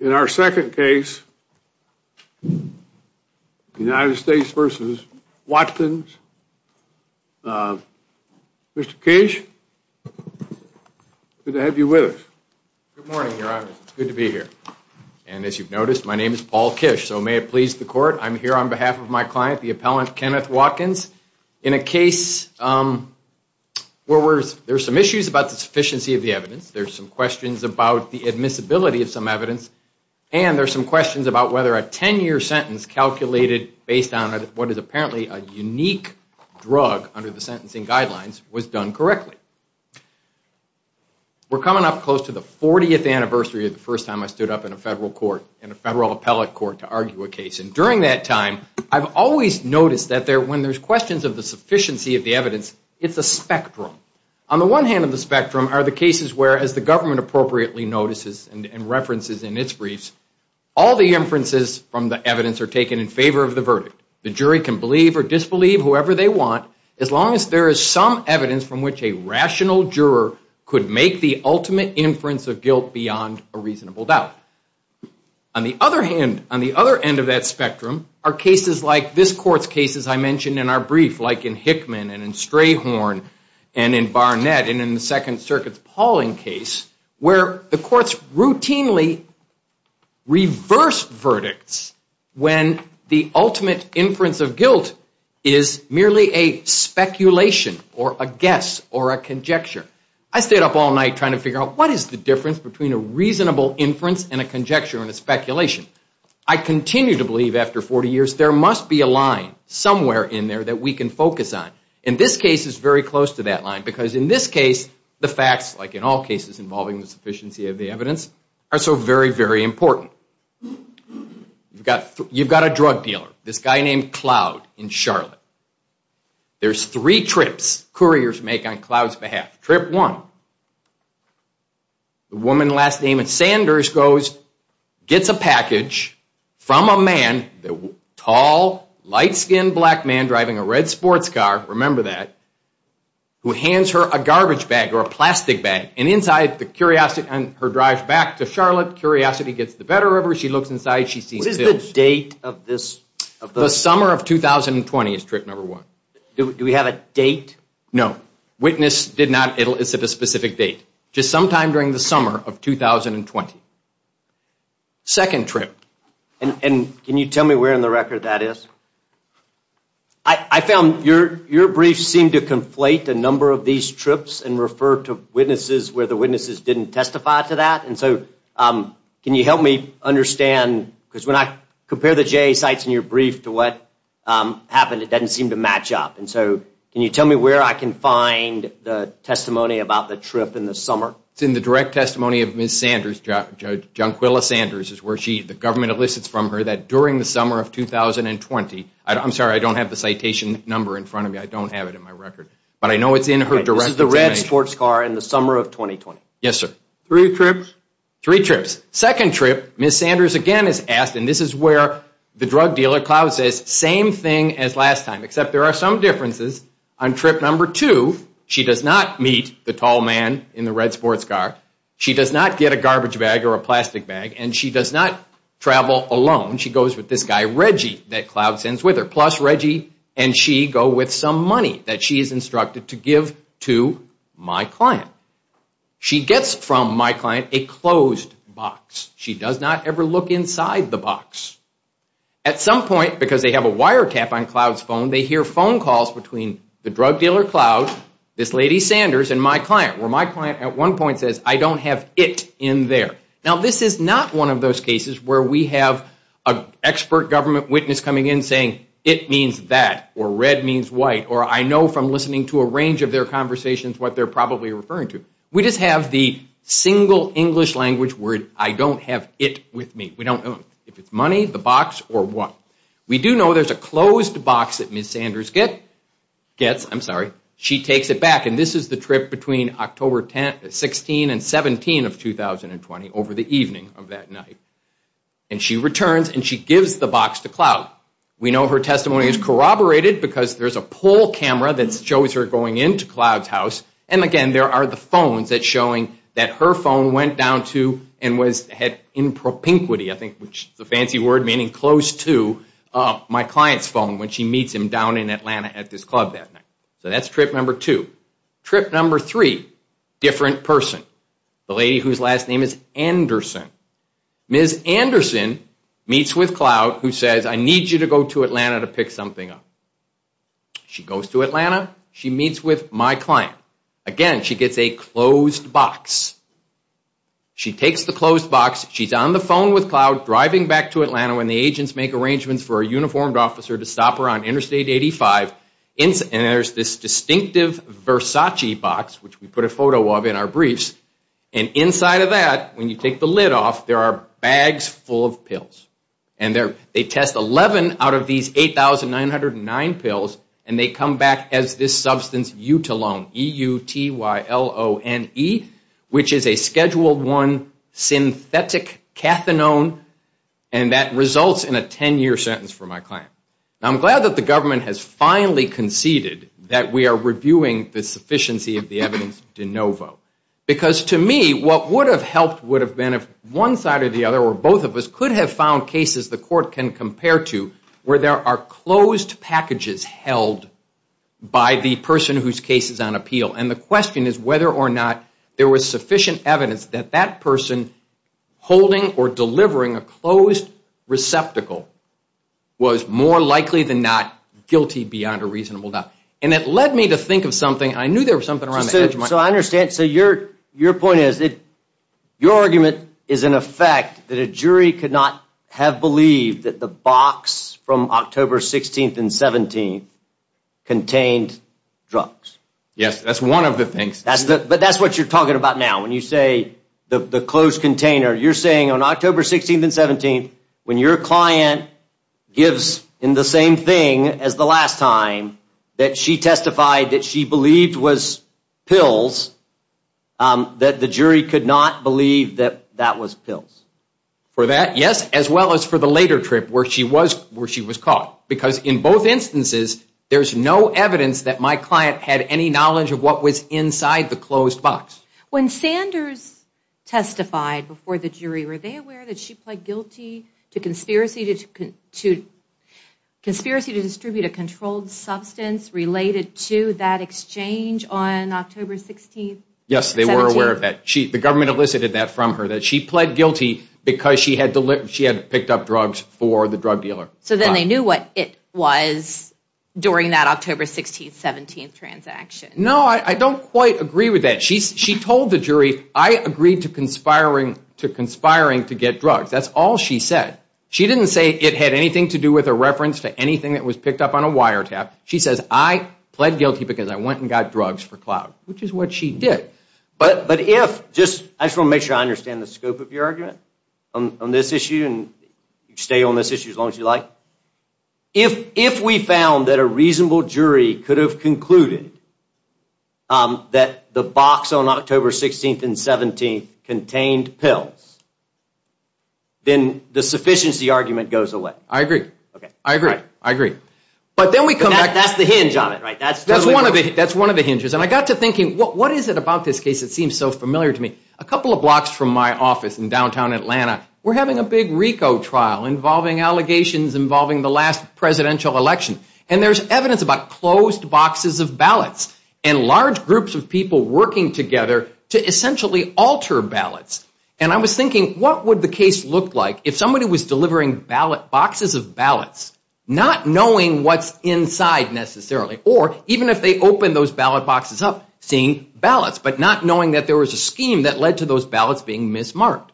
In our second case, United States v. Watkins, Mr. Kish, good to have you with us. Good morning, Your Honor. It's good to be here. And as you've noticed, my name is Paul Kish, so may it please the Court, I'm here on behalf of my client, the appellant Kenneth Watkins. In a case where there's some issues about the sufficiency of the evidence, there's some questions about the admissibility of some evidence, and there's some questions about whether a 10-year sentence calculated based on what is apparently a unique drug under the sentencing guidelines was done correctly. We're coming up close to the 40th anniversary of the first time I stood up in a federal court, in a federal appellate court, to argue a case. And during that time, I've always noticed that when there's questions of the sufficiency of the evidence, it's a spectrum. On the one hand of the spectrum are the cases where, as the government appropriately notices and references in its briefs, all the inferences from the evidence are taken in favor of the verdict. The jury can believe or disbelieve whoever they want, as long as there is some evidence from which a rational juror could make the ultimate inference of guilt beyond a reasonable doubt. On the other hand, on the other end of that spectrum, are cases like this Court's cases I mentioned in our brief, like in Hickman and in Strayhorn and in Barnett and in the Second Circuit's Pauling case, where the courts routinely reverse verdicts when the ultimate inference of guilt is merely a speculation or a guess or a conjecture. I stayed up all night trying to figure out what is the difference between a reasonable inference and a conjecture and a speculation. I continue to believe after 40 years there must be a line somewhere in there that we can focus on. And this case is very close to that line, because in this case the facts, like in all cases involving the sufficiency of the evidence, are so very, very important. You've got a drug dealer, this guy named Cloud in Charlotte. There's three trips couriers make on Cloud's behalf. Trip one, the woman, last name is Sanders, gets a package from a man, a tall, light-skinned black man driving a red sports car, remember that, who hands her a garbage bag or a plastic bag. And inside her drives back to Charlotte. Curiosity gets the better of her. She looks inside. She sees pills. What is the date of this? The summer of 2020 is trip number one. Do we have a date? No. Witness did not illicit a specific date. Just sometime during the summer of 2020. Second trip. And can you tell me where in the record that is? I found your brief seemed to conflate a number of these trips and refer to witnesses where the witnesses didn't testify to that. And so can you help me understand, because when I compare the JA sites in your brief to what happened, it doesn't seem to match up. And so can you tell me where I can find the testimony about the trip in the summer? It's in the direct testimony of Ms. Sanders, Judge Junkwilla Sanders, is where the government elicits from her that during the summer of 2020, I'm sorry, I don't have the citation number in front of me, I don't have it in my record, but I know it's in her direct testimony. This is the red sports car in the summer of 2020? Yes, sir. Three trips? Three trips. Second trip, Ms. Sanders again is asked, and this is where the drug dealer Cloud says, same thing as last time, except there are some differences. On trip number two, she does not meet the tall man in the red sports car, she does not get a garbage bag or a plastic bag, and she does not travel alone. She goes with this guy Reggie that Cloud sends with her. Plus Reggie and she go with some money that she is instructed to give to my client. She gets from my client a closed box. She does not ever look inside the box. At some point, because they have a wiretap on Cloud's phone, they hear phone calls between the drug dealer Cloud, this lady Sanders, and my client, where my client at one point says, I don't have it in there. Now, this is not one of those cases where we have an expert government witness coming in saying, it means that, or red means white, or I know from listening to a range of their conversations what they're probably referring to. We just have the single English language word, I don't have it with me. We don't know if it's money, the box, or what. We do know there's a closed box that Ms. Sanders gets. She takes it back, and this is the trip between October 16 and 17 of 2020 over the evening of that night. She returns and she gives the box to Cloud. We know her testimony is corroborated because there's a poll camera that shows her going into Cloud's house, and again, there are the phones that's showing that her phone went down to and was in propinquity, I think, which is a fancy word meaning close to my client's phone when she meets him down in Atlanta at this club that night. So that's trip number two. Trip number three, different person. The lady whose last name is Anderson. Ms. Anderson meets with Cloud, who says, I need you to go to Atlanta to pick something up. She goes to Atlanta, she meets with my client. Again, she gets a closed box. She takes the closed box. She's on the phone with Cloud driving back to Atlanta when the agents make arrangements for a uniformed officer to stop her on Interstate 85. There's this distinctive Versace box, which we put a photo of in our briefs, and inside of that, when you take the lid off, there are bags full of pills. They test 11 out of these 8,909 pills, and they come back as this substance eutalon, E-U-T-Y-L-O-N-E, which is a scheduled one, synthetic cathinone, and that results in a 10-year sentence for my client. I'm glad that the government has finally conceded that we are reviewing the sufficiency of the evidence de novo, because to me, what would have helped would have been if one side or the other, or both of us, could have found cases the court can compare to where there are closed packages held by the person whose case is on appeal. And the question is whether or not there was sufficient evidence that that person holding or delivering a closed receptacle was more likely than not guilty beyond a reasonable doubt. And it led me to think of something, and I knew there was something around that. So I understand. So your point is, your argument is in effect that a jury could not have believed that the box from October 16th and 17th contained drugs. Yes, that's one of the things. But that's what you're talking about now. When you say the closed container, you're saying on October 16th and 17th, when your client gives in the same thing as the last time that she testified that she believed was pills, that the jury could not believe that that was pills. For that, yes, as well as for the later trip where she was caught. Because in both instances, there's no evidence that my client had any knowledge of what was inside the closed box. When Sanders testified before the jury, were they aware that she pled guilty to conspiracy to distribute a controlled substance related to that exchange on October 16th and 17th? Yes, they were aware of that. The government elicited that from her, that she pled guilty because she had picked up drugs for the drug dealer. So then they knew what it was during that October 16th, 17th transaction. No, I don't quite agree with that. She told the jury, I agreed to conspiring to get drugs. That's all she said. She didn't say it had anything to do with a reference to anything that was picked up on a wiretap. She says, I pled guilty because I went and got drugs for Cloud, which is what she did. I just want to make sure I understand the scope of your argument on this issue. You can stay on this issue as long as you like. If we found that a reasonable jury could have concluded that the box on October 16th and 17th contained pills, then the sufficiency argument goes away. I agree. That's the hinge on it, right? That's one of the hinges. I got to thinking, what is it about this case that seems so familiar to me? A couple of blocks from my office in downtown Atlanta, we're having a big RICO trial involving allegations involving the last presidential election, and there's evidence about closed boxes of ballots and large groups of people working together to essentially alter ballots. I was thinking, what would the case look like if somebody was delivering boxes of ballots not knowing what's inside necessarily, or even if they opened those ballot boxes up, seeing ballots, but not knowing that there was a scheme that led to those ballots being mismarked?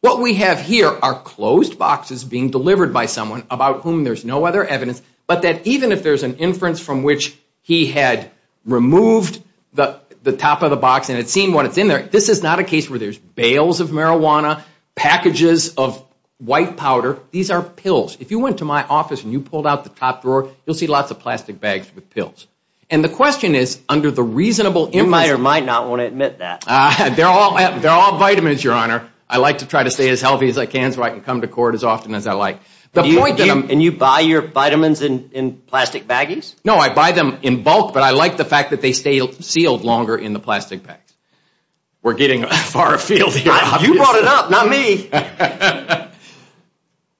What we have here are closed boxes being delivered by someone about whom there's no other evidence, but that even if there's an inference from which he had removed the top of the box and had seen what's in there, this is not a case where there's bales of marijuana, packages of white powder. These are pills. If you went to my office and you pulled out the top drawer, you'll see lots of plastic bags with pills. And the question is, under the reasonable inference... You might or might not want to admit that. They're all vitamins, Your Honor. I like to try to stay as healthy as I can so I can come to court as often as I like. And you buy your vitamins in plastic baggies? No, I buy them in bulk, but I like the fact that they stay sealed longer in the plastic bags. We're getting far afield here, obviously. You brought it up, not me.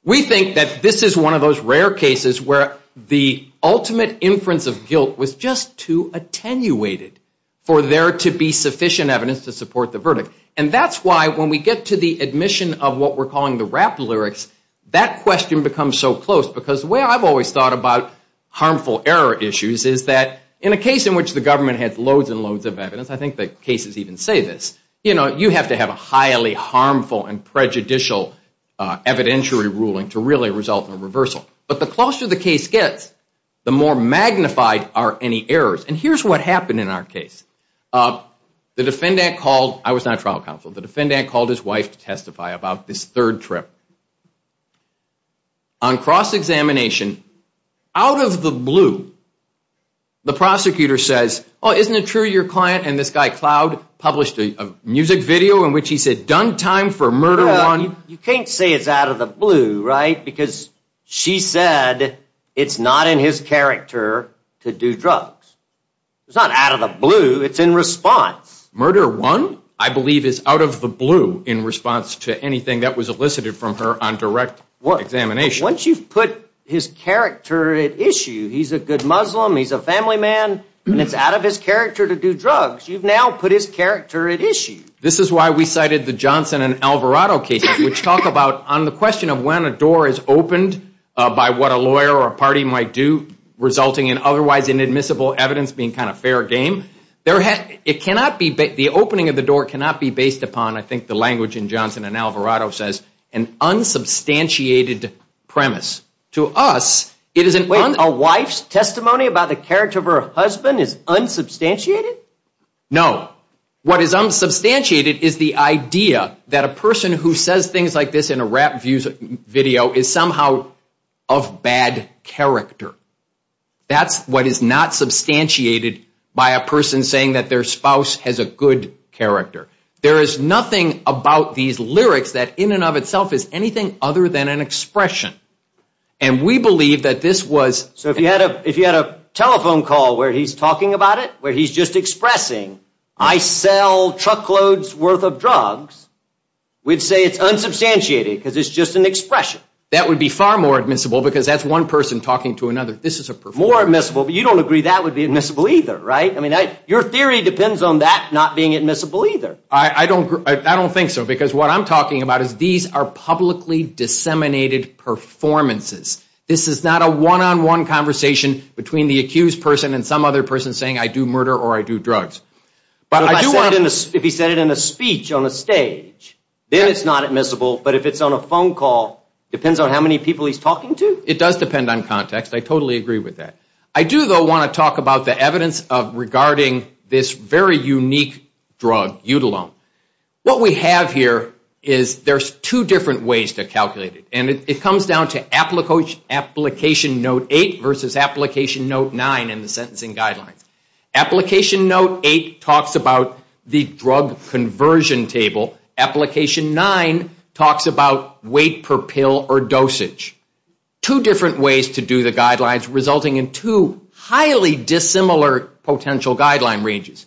We think that this is one of those rare cases where the ultimate inference of guilt was just too attenuated for there to be sufficient evidence to support the verdict. And that's why when we get to the admission of what we're calling the rap lyrics, that question becomes so close because the way I've always thought about harmful error issues is that in a case in which the government has loads and loads of evidence, I think that cases even say this, you know, you have to have a highly harmful and prejudicial evidentiary ruling to really result in a reversal. But the closer the case gets, the more magnified are any errors. And here's what happened in our case. The defendant called... I was not trial counsel. The defendant called his wife to testify about this third trip. On cross-examination, out of the blue, the prosecutor says, oh, isn't it true your client and this guy Cloud published a music video in which he said, done time for murder one. You can't say it's out of the blue, right, because she said it's not in his character to do drugs. It's not out of the blue. It's in response. Murder one, I believe, is out of the blue in response to anything that was elicited from her on direct examination. Once you've put his character at issue, he's a good Muslim, he's a family man, and it's out of his character to do drugs. You've now put his character at issue. This is why we cited the Johnson and Alvarado cases, which talk about on the question of when a door is opened by what a lawyer or a party might do, resulting in otherwise inadmissible evidence being kind of fair game. The opening of the door cannot be based upon, I think the language in Johnson and Alvarado says, an unsubstantiated premise. A wife's testimony about the character of her husband is unsubstantiated? No. What is unsubstantiated is the idea that a person who says things like this in a rap video is somehow of bad character. That's what is not substantiated by a person saying that their spouse has a good character. There is nothing about these lyrics that in and of itself is anything other than an expression. And we believe that this was... So if you had a telephone call where he's talking about it, where he's just expressing, I sell truckloads worth of drugs, we'd say it's unsubstantiated because it's just an expression. That would be far more admissible because that's one person talking to another. More admissible, but you don't agree that would be admissible either, right? Your theory depends on that not being admissible either. I don't think so because what I'm talking about is these are publicly disseminated performances. This is not a one-on-one conversation between the accused person and some other person saying I do murder or I do drugs. If he said it in a speech on a stage, then it's not admissible, but if it's on a phone call, it depends on how many people he's talking to? It does depend on context. I totally agree with that. I do, though, want to talk about the evidence regarding this very unique drug, Eutelone. What we have here is there's two different ways to calculate it, and it comes down to Application Note 8 versus Application Note 9 in the Sentencing Guidelines. Application Note 8 talks about the drug conversion table. Application 9 talks about weight per pill or dosage. Two different ways to do the guidelines resulting in two highly dissimilar potential guideline ranges.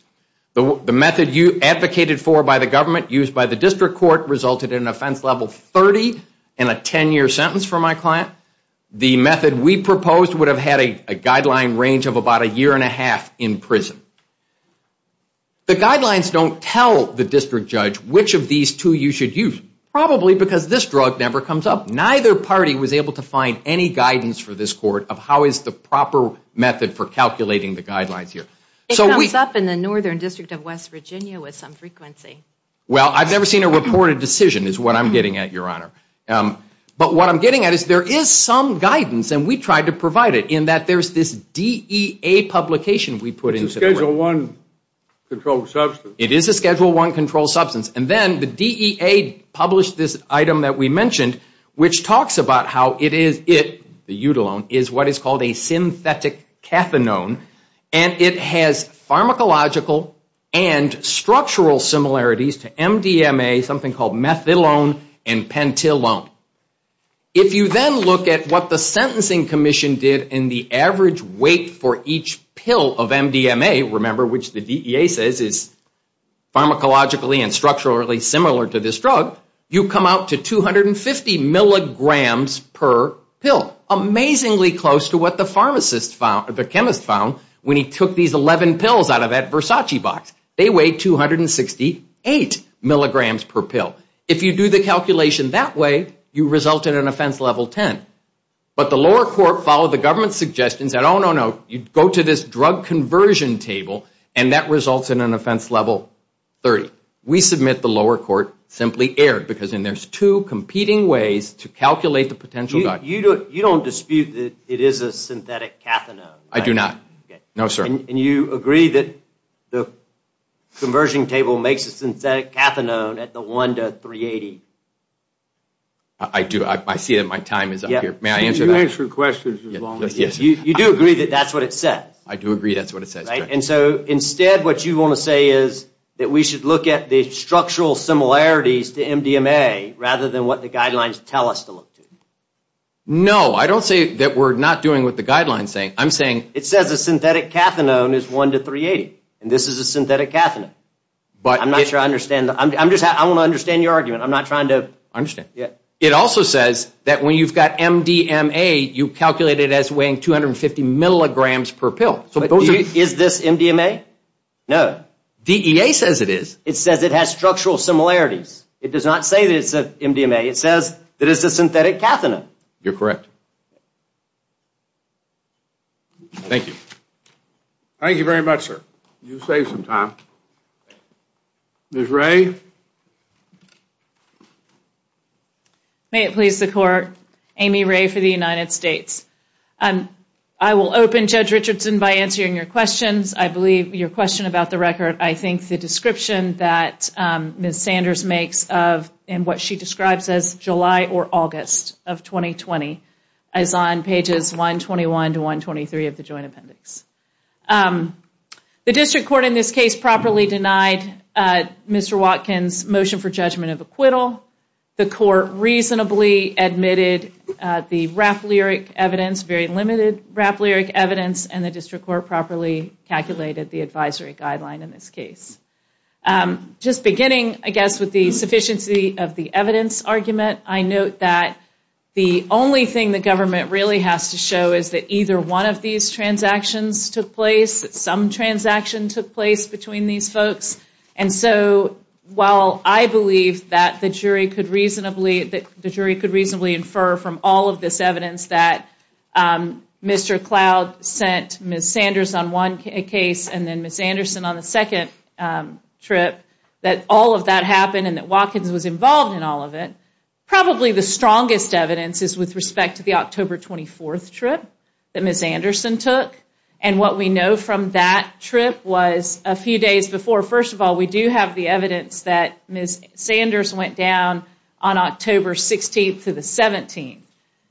The method you advocated for by the government used by the district court resulted in an offense level 30 and a 10-year sentence for my client. The method we proposed would have had a guideline range of about a year and a half in prison. The guidelines don't tell the district judge which of these two you should use, probably because this drug never comes up. Neither party was able to find any guidance for this court of how is the proper method for calculating the guidelines here. It comes up in the Northern District of West Virginia with some frequency. Well, I've never seen a reported decision is what I'm getting at, Your Honor. But what I'm getting at is there is some guidance, and we tried to provide it, in that there's this DEA publication we put into the court. It's a Schedule I controlled substance. It is a Schedule I controlled substance. And then the DEA published this item that we mentioned, which talks about how it is it, the eutalone, is what is called a synthetic cathinone, and it has pharmacological and structural similarities to MDMA, something called methylone and pentylone. If you then look at what the Sentencing Commission did in the average weight for each pill of MDMA, remember, which the DEA says is pharmacologically and structurally similar to this drug, you come out to 250 milligrams per pill, amazingly close to what the chemist found when he took these 11 pills out of that Versace box. They weighed 268 milligrams per pill. If you do the calculation that way, you result in an offense level 10. But the lower court followed the government's suggestions that, oh, no, no, you go to this drug conversion table, and that results in an offense level 30. We submit the lower court simply erred, because then there's two competing ways to calculate the potential drug. You don't dispute that it is a synthetic cathinone, right? I do not. No, sir. And you agree that the conversion table makes a synthetic cathinone at the 1 to 380? I do. I see that my time is up here. May I answer that? You answer questions as long as you answer. You do agree that that's what it says? I do agree that's what it says, correct. And so instead what you want to say is that we should look at the structural similarities to MDMA rather than what the guidelines tell us to look to? No, I don't say that we're not doing what the guidelines say. I'm saying the synthetic cathinone is 1 to 380, and this is a synthetic cathinone. I'm not sure I understand. I want to understand your argument. I'm not trying to – I understand. It also says that when you've got MDMA, you calculate it as weighing 250 milligrams per pill. Is this MDMA? No. DEA says it is. It says it has structural similarities. It does not say that it's MDMA. It says that it's a synthetic cathinone. You're correct. Thank you. Thank you very much, sir. You saved some time. Ms. Ray? May it please the Court. Amy Ray for the United States. I will open, Judge Richardson, by answering your questions. I believe your question about the record, I think the description that Ms. Sanders makes of and what she describes as July or August of 2020 is on pages 121 to 123 of the Joint Appendix. The district court in this case properly denied Mr. Watkins' motion for judgment of acquittal. The court reasonably admitted the rap-lyric evidence, very limited rap-lyric evidence, and the district court properly calculated the advisory guideline in this case. Just beginning, I guess, with the sufficiency of the evidence argument, I note that the only thing the government really has to show is that either one of these transactions took place, that some transaction took place between these folks. And so while I believe that the jury could reasonably infer from all of this evidence that Mr. Cloud sent Ms. Sanders on one case and then Ms. Anderson on the second trip that all of that happened and that Watkins was involved in all of it, probably the strongest evidence is with respect to the October 24th trip that Ms. Anderson took. And what we know from that trip was a few days before. First of all, we do have the evidence that Ms. Sanders went down on October 16th to the 17th.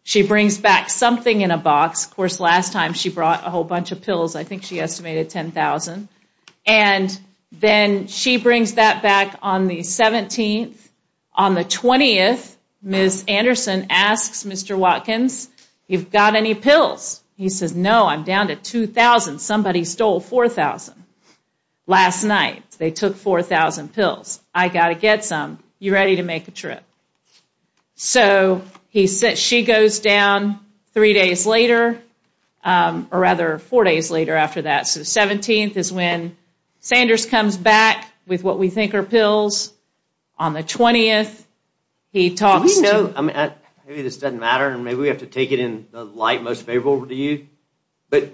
She brings back something in a box. Of course, last time she brought a whole bunch of pills. I think she estimated 10,000. And then she brings that back on the 17th. On the 20th, Ms. Anderson asks Mr. Watkins, you've got any pills? He says, no, I'm down to 2,000. Somebody stole 4,000 last night. They took 4,000 pills. I've got to get some. You ready to make a trip? So she goes down three days later, or rather four days later after that. So the 17th is when Sanders comes back with what we think are pills. On the 20th, he talks to her. Maybe this doesn't matter, and maybe we have to take it in the light most favorable to you. But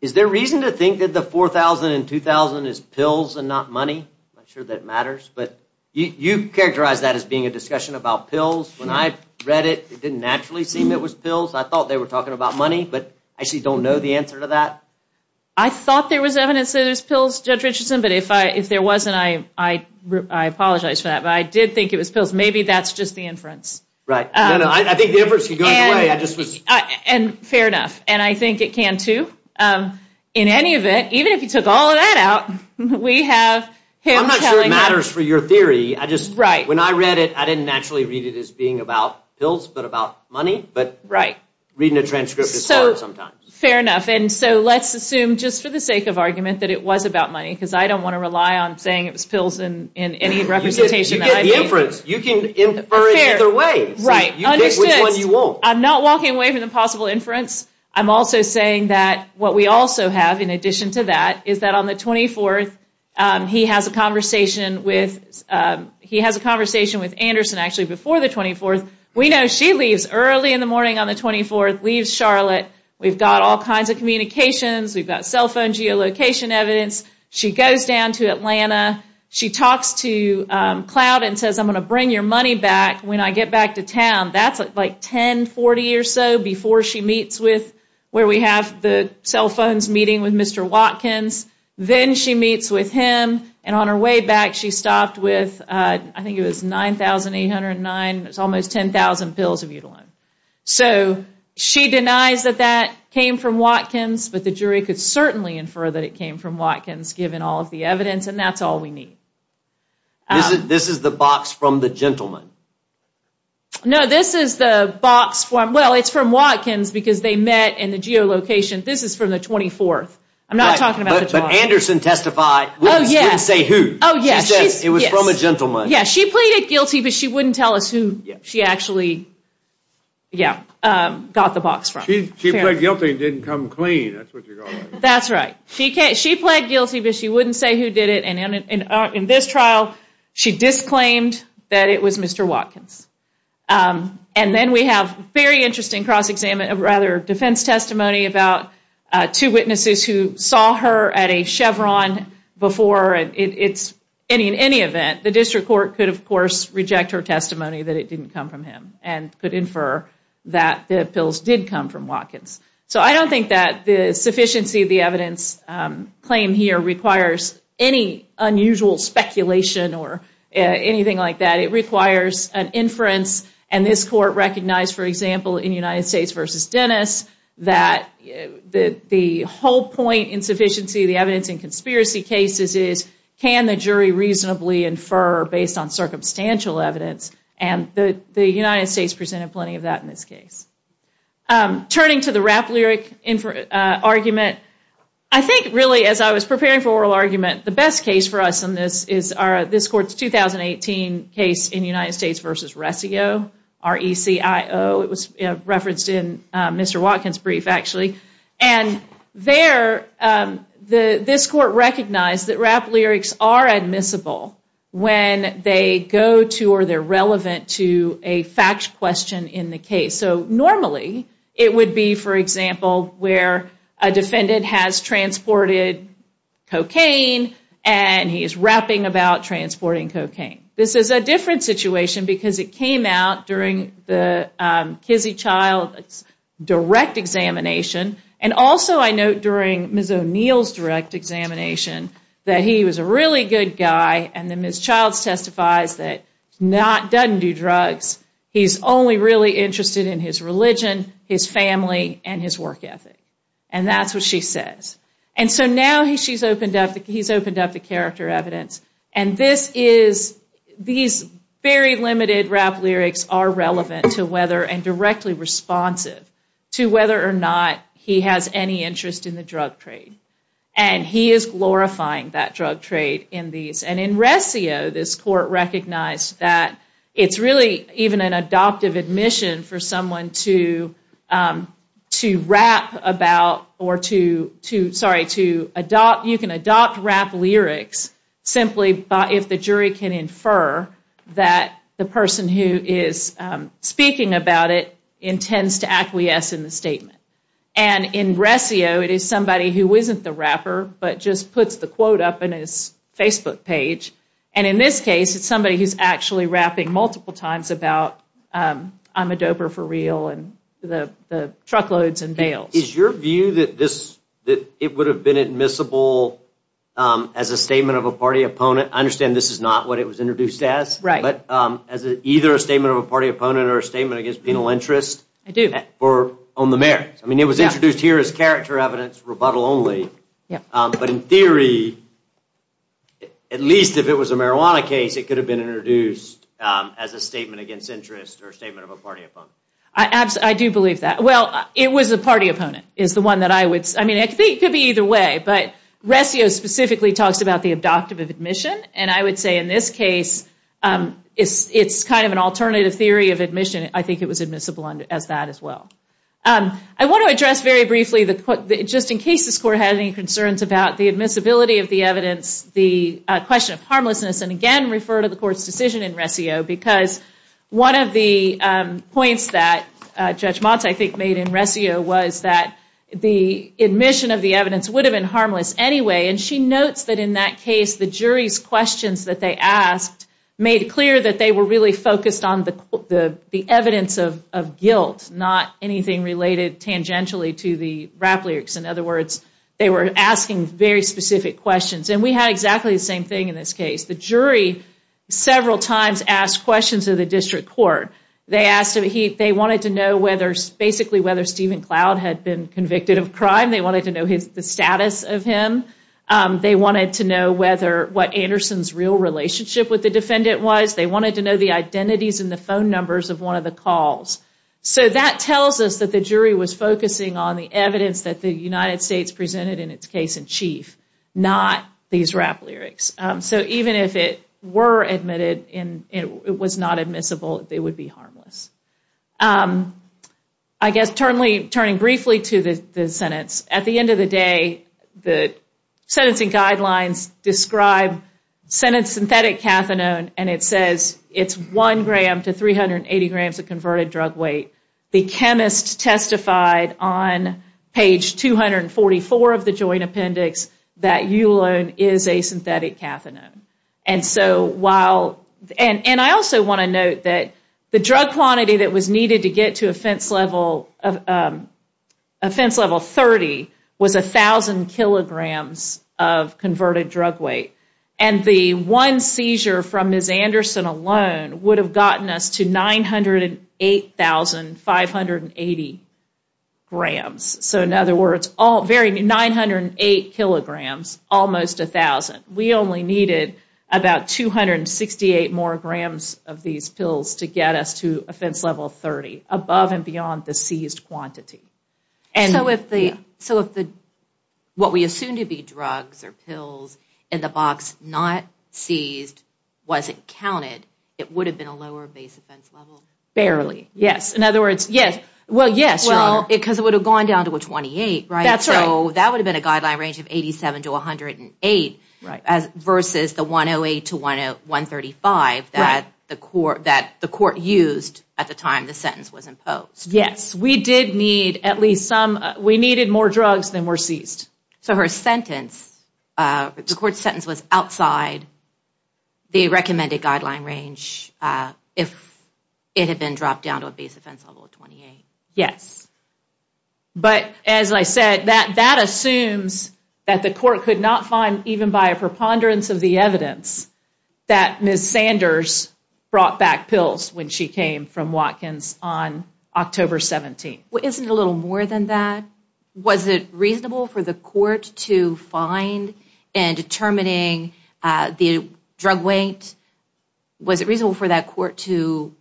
is there reason to think that the 4,000 and 2,000 is pills and not money? I'm not sure that matters. But you characterized that as being a discussion about pills. When I read it, it didn't naturally seem it was pills. I thought they were talking about money, but I actually don't know the answer to that. I thought there was evidence that it was pills, Judge Richardson. But if there wasn't, I apologize for that. But I did think it was pills. Maybe that's just the inference. I think the inference can go either way. Fair enough. And I think it can, too. In any event, even if you took all of that out, we have him telling us. I'm not sure it matters for your theory. When I read it, I didn't naturally read it as being about pills but about money. But reading a transcript is hard sometimes. Fair enough. And so let's assume, just for the sake of argument, that it was about money because I don't want to rely on saying it was pills in any representation. You get the inference. You can infer it either way. Right. You get which one you want. I'm not walking away from the possible inference. I'm also saying that what we also have in addition to that is that on the 24th, he has a conversation with Anderson, actually, before the 24th. We know she leaves early in the morning on the 24th, leaves Charlotte. We've got all kinds of communications. We've got cell phone geolocation evidence. She goes down to Atlanta. She talks to Cloud and says, I'm going to bring your money back when I get back to town. That's like 10, 40 years or so before she meets with where we have the cell phones meeting with Mr. Watkins. Then she meets with him. And on her way back, she stopped with, I think it was 9,809, almost 10,000 pills of Eutelon. So she denies that that came from Watkins, but the jury could certainly infer that it came from Watkins given all of the information we need. This is the box from the gentleman. No, this is the box from Watkins because they met in the geolocation. This is from the 24th. I'm not talking about the child. But Anderson testified it didn't say who. Oh, yes. It was from a gentleman. Yes. She pleaded guilty, but she wouldn't tell us who she actually got the box from. She pleaded guilty and didn't come clean. That's what you're calling it. That's right. She pleaded guilty, but she wouldn't say who did it. And in this trial, she disclaimed that it was Mr. Watkins. And then we have very interesting cross-examination, or rather defense testimony about two witnesses who saw her at a Chevron before it's any event. The district court could, of course, reject her testimony that it didn't come from him and could infer that the pills did come from Watkins. So I don't think that the sufficiency of the evidence claim here requires any unusual speculation or anything like that. It requires an inference. And this court recognized, for example, in United States v. Dennis, that the whole point in sufficiency of the evidence in conspiracy cases is, can the jury reasonably infer based on circumstantial evidence? And the United States presented plenty of that in this case. Turning to the rap lyric argument, I think, really, as I was preparing for oral argument, the best case for us in this is this court's 2018 case in United States v. Resio, R-E-C-I-O. It was referenced in Mr. Watkins' brief, actually. And there, this court recognized that rap lyrics are admissible when they go to or they're relevant to a fact question in the case. So normally, it would be, for example, where a defendant has transported cocaine and he is rapping about transporting cocaine. This is a different situation because it came out during the Kizzie Child's direct examination. And also I note during Ms. O'Neill's direct examination that he was a really good guy and then Ms. Child's testifies that he's not done any drugs. He's only really interested in his religion, his family, and his work ethic. And that's what she says. And so now he's opened up the character evidence. And these very limited rap lyrics are relevant to whether and directly responsive to whether or not he has any interest in the drug trade. And he is glorifying that drug trade in these. And in Recio, this court recognized that it's really even an adoptive admission for someone to rap about or to, sorry, to adopt. You can adopt rap lyrics simply if the jury can infer that the person who is speaking about it intends to acquiesce in the statement. And in Recio, it is somebody who isn't the rapper but just puts the quote up in his Facebook page. And in this case, it's somebody who's actually rapping multiple times about I'm a doper for real and the truckloads and bails. Is your view that it would have been admissible as a statement of a party opponent? I understand this is not what it was introduced as. Right. But as either a statement of a party opponent or a statement against penal interest? I do. Or on the merits? I mean, it was introduced here as character evidence, rebuttal only. But in theory, at least if it was a marijuana case, it could have been introduced as a statement against interest or a statement of a party opponent. I do believe that. Well, it was a party opponent is the one that I would say. I mean, it could be either way. But Recio specifically talks about the adoptive of admission. And I would say in this case, it's kind of an alternative theory of admission. I think it was admissible as that as well. I want to address very briefly, just in case this court had any concerns about the admissibility of the evidence, the question of harmlessness. And again, refer to the court's decision in Recio because one of the points that Judge Motz I think made in Recio was that the admission of the evidence would have been harmless anyway. And she notes that in that case, the jury's questions that they asked made it clear that they were really focused on the evidence of guilt, not anything related tangentially to the rap lyrics. In other words, they were asking very specific questions. And we had exactly the same thing in this case. The jury several times asked questions of the district court. They wanted to know basically whether Stephen Cloud had been convicted of crime. They wanted to know the status of him. They wanted to know what Anderson's real relationship with the defendant was. They wanted to know the identities and the phone numbers of one of the calls. So that tells us that the jury was focusing on the evidence that the United States presented in its case in chief, not these rap lyrics. So even if it were admitted and it was not admissible, it would be harmless. I guess turning briefly to the sentence, at the end of the day, the sentencing guidelines describe sentence synthetic cathinone and it says it's 1 gram to 380 grams of converted drug weight. The chemist testified on page 244 of the joint appendix that Eulone is a synthetic cathinone. And I also want to note that the drug quantity that was needed to get to offense level 30 was 1,000 kilograms of converted drug weight. And the one seizure from Ms. Anderson alone would have gotten us to 908,580 grams. So in other words, 908 kilograms, almost 1,000. We only needed about 268 more grams of these pills to get us to offense level 30, above and beyond the seized quantity. So if what we assume to be drugs or pills in the box not seized wasn't counted, it would have been a lower base offense level? Barely, yes. In other words, yes. Well, yes, Your Honor. Because it would have gone down to a 28, right? That's right. So that would have been a guideline range of 87 to 108 versus the 108 to 135 that the court used at the time the sentence was imposed. Yes. We did need at least some, we needed more drugs than were seized. So her sentence, the court's sentence was outside the recommended guideline range if it had been dropped down to a base offense level of 28. Yes. But as I said, that assumes that the court could not find, even by a preponderance of the evidence, that Ms. Sanders brought back pills when she came from Watkins on October 17th. Well, isn't it a little more than that? Was it reasonable for the court to find in determining the drug weight, was it reasonable for that court to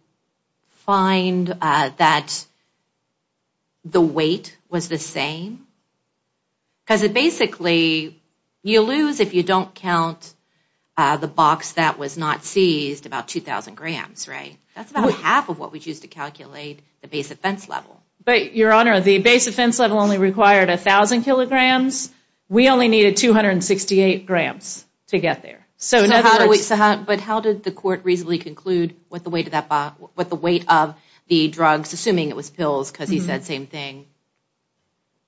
find that the weight was the same? Because it basically, you lose if you don't count the box that was not seized, about 2,000 grams, right? That's about half of what we choose to calculate the base offense level. But, Your Honor, the base offense level only required 1,000 kilograms. We only needed 268 grams to get there. But how did the court reasonably conclude what the weight of the drugs, assuming it was pills because he said the same thing?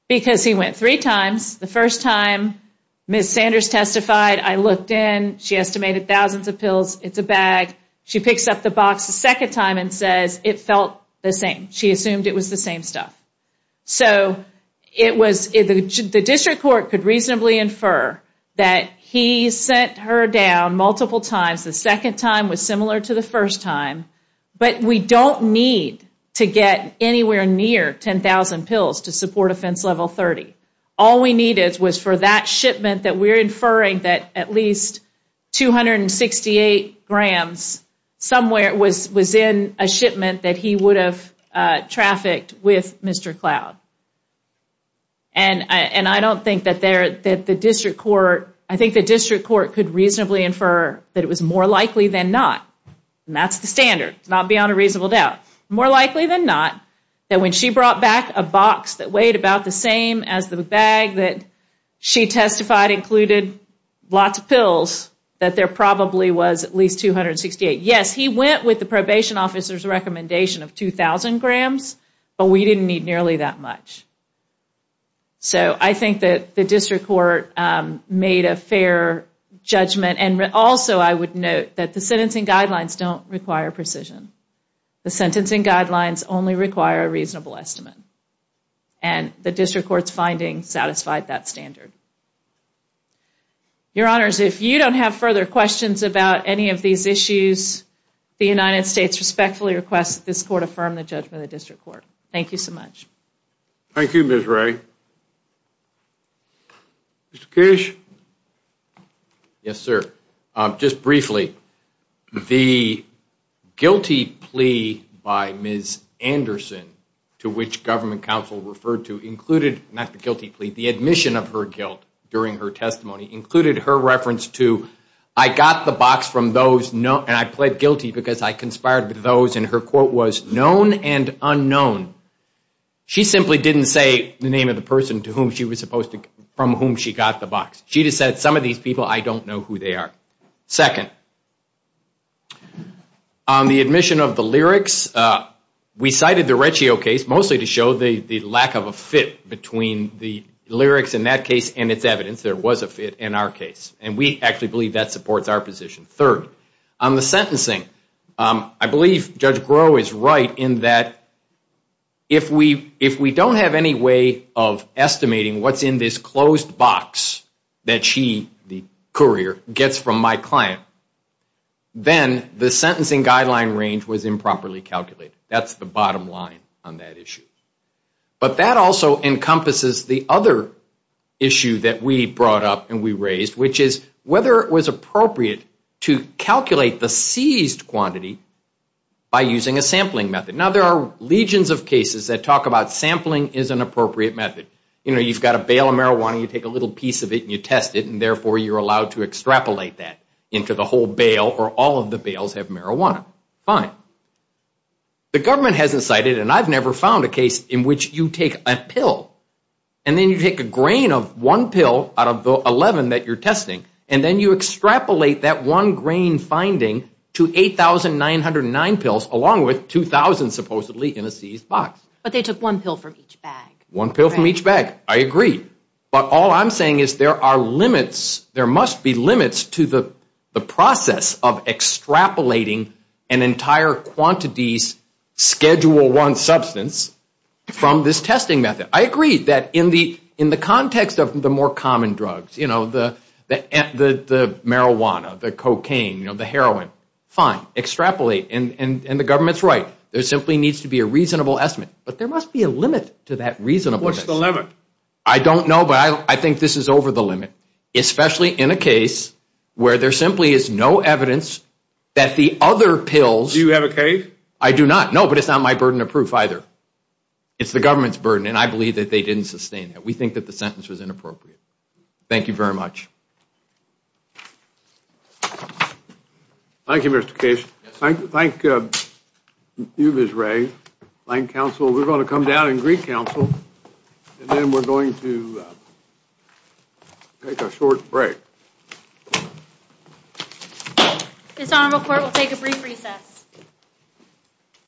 Because he went three times. The first time, Ms. Sanders testified. I looked in. She estimated thousands of pills. It's a bag. She picks up the box a second time and says it felt the same. She assumed it was the same stuff. So the district court could reasonably infer that he sent her down multiple times. The second time was similar to the first time. But we don't need to get anywhere near 10,000 pills to support offense level 30. All we needed was for that shipment that we're inferring that at least 268 grams somewhere was in a shipment that he would have trafficked with Mr. Cloud. And I don't think that the district court, I think the district court could reasonably infer that it was more likely than not. And that's the standard, not beyond a reasonable doubt. More likely than not that when she brought back a box that weighed about the that there probably was at least 268. Yes, he went with the probation officer's recommendation of 2,000 grams, but we didn't need nearly that much. So I think that the district court made a fair judgment. And also I would note that the sentencing guidelines don't require precision. The sentencing guidelines only require a reasonable estimate. And the district court's findings satisfied that standard. Your Honors, if you don't have further questions about any of these issues, the United States respectfully requests that this court affirm the judgment of the district court. Thank you so much. Thank you, Ms. Ray. Mr. Cash? Yes, sir. Just briefly, the guilty plea by Ms. Anderson to which government counsel referred to during her testimony included her reference to, I got the box from those, and I pled guilty because I conspired with those, and her quote was, known and unknown. She simply didn't say the name of the person to whom she was supposed to, from whom she got the box. She just said, some of these people, I don't know who they are. Second, on the admission of the lyrics, we cited the Reccio case mostly to show the lack of a fit between the lyrics in that case and its evidence. There was a fit in our case, and we actually believe that supports our position. Third, on the sentencing, I believe Judge Groh is right in that if we don't have any way of estimating what's in this closed box that she, the courier, gets from my client, that's the bottom line on that issue. But that also encompasses the other issue that we brought up and we raised, which is whether it was appropriate to calculate the seized quantity by using a sampling method. Now, there are legions of cases that talk about sampling is an appropriate method. You know, you've got a bale of marijuana, you take a little piece of it, and you test it, and therefore you're allowed to extrapolate that into the whole bale, or all of the bales have marijuana. Fine. The government hasn't cited, and I've never found a case in which you take a pill, and then you take a grain of one pill out of the 11 that you're testing, and then you extrapolate that one grain finding to 8,909 pills, along with 2,000 supposedly in a seized box. But they took one pill from each bag. One pill from each bag. I agree. But all I'm saying is there are limits, there must be limits to the process of extrapolating an entire quantity's Schedule I substance from this testing method. I agree that in the context of the more common drugs, you know, the marijuana, the cocaine, you know, the heroin, fine. Extrapolate. And the government's right. There simply needs to be a reasonable estimate. But there must be a limit to that reasonable estimate. What's the limit? I don't know, but I think this is over the limit, especially in a case where there simply is no evidence that the other pills. Do you have a case? I do not. No, but it's not my burden of proof either. It's the government's burden, and I believe that they didn't sustain it. We think that the sentence was inappropriate. Thank you very much. Thank you, Mr. Case. Thank you, Ms. Ray. We're going to come down in Greek Council, and then we're going to take a short break. This Honorable Court will take a brief recess.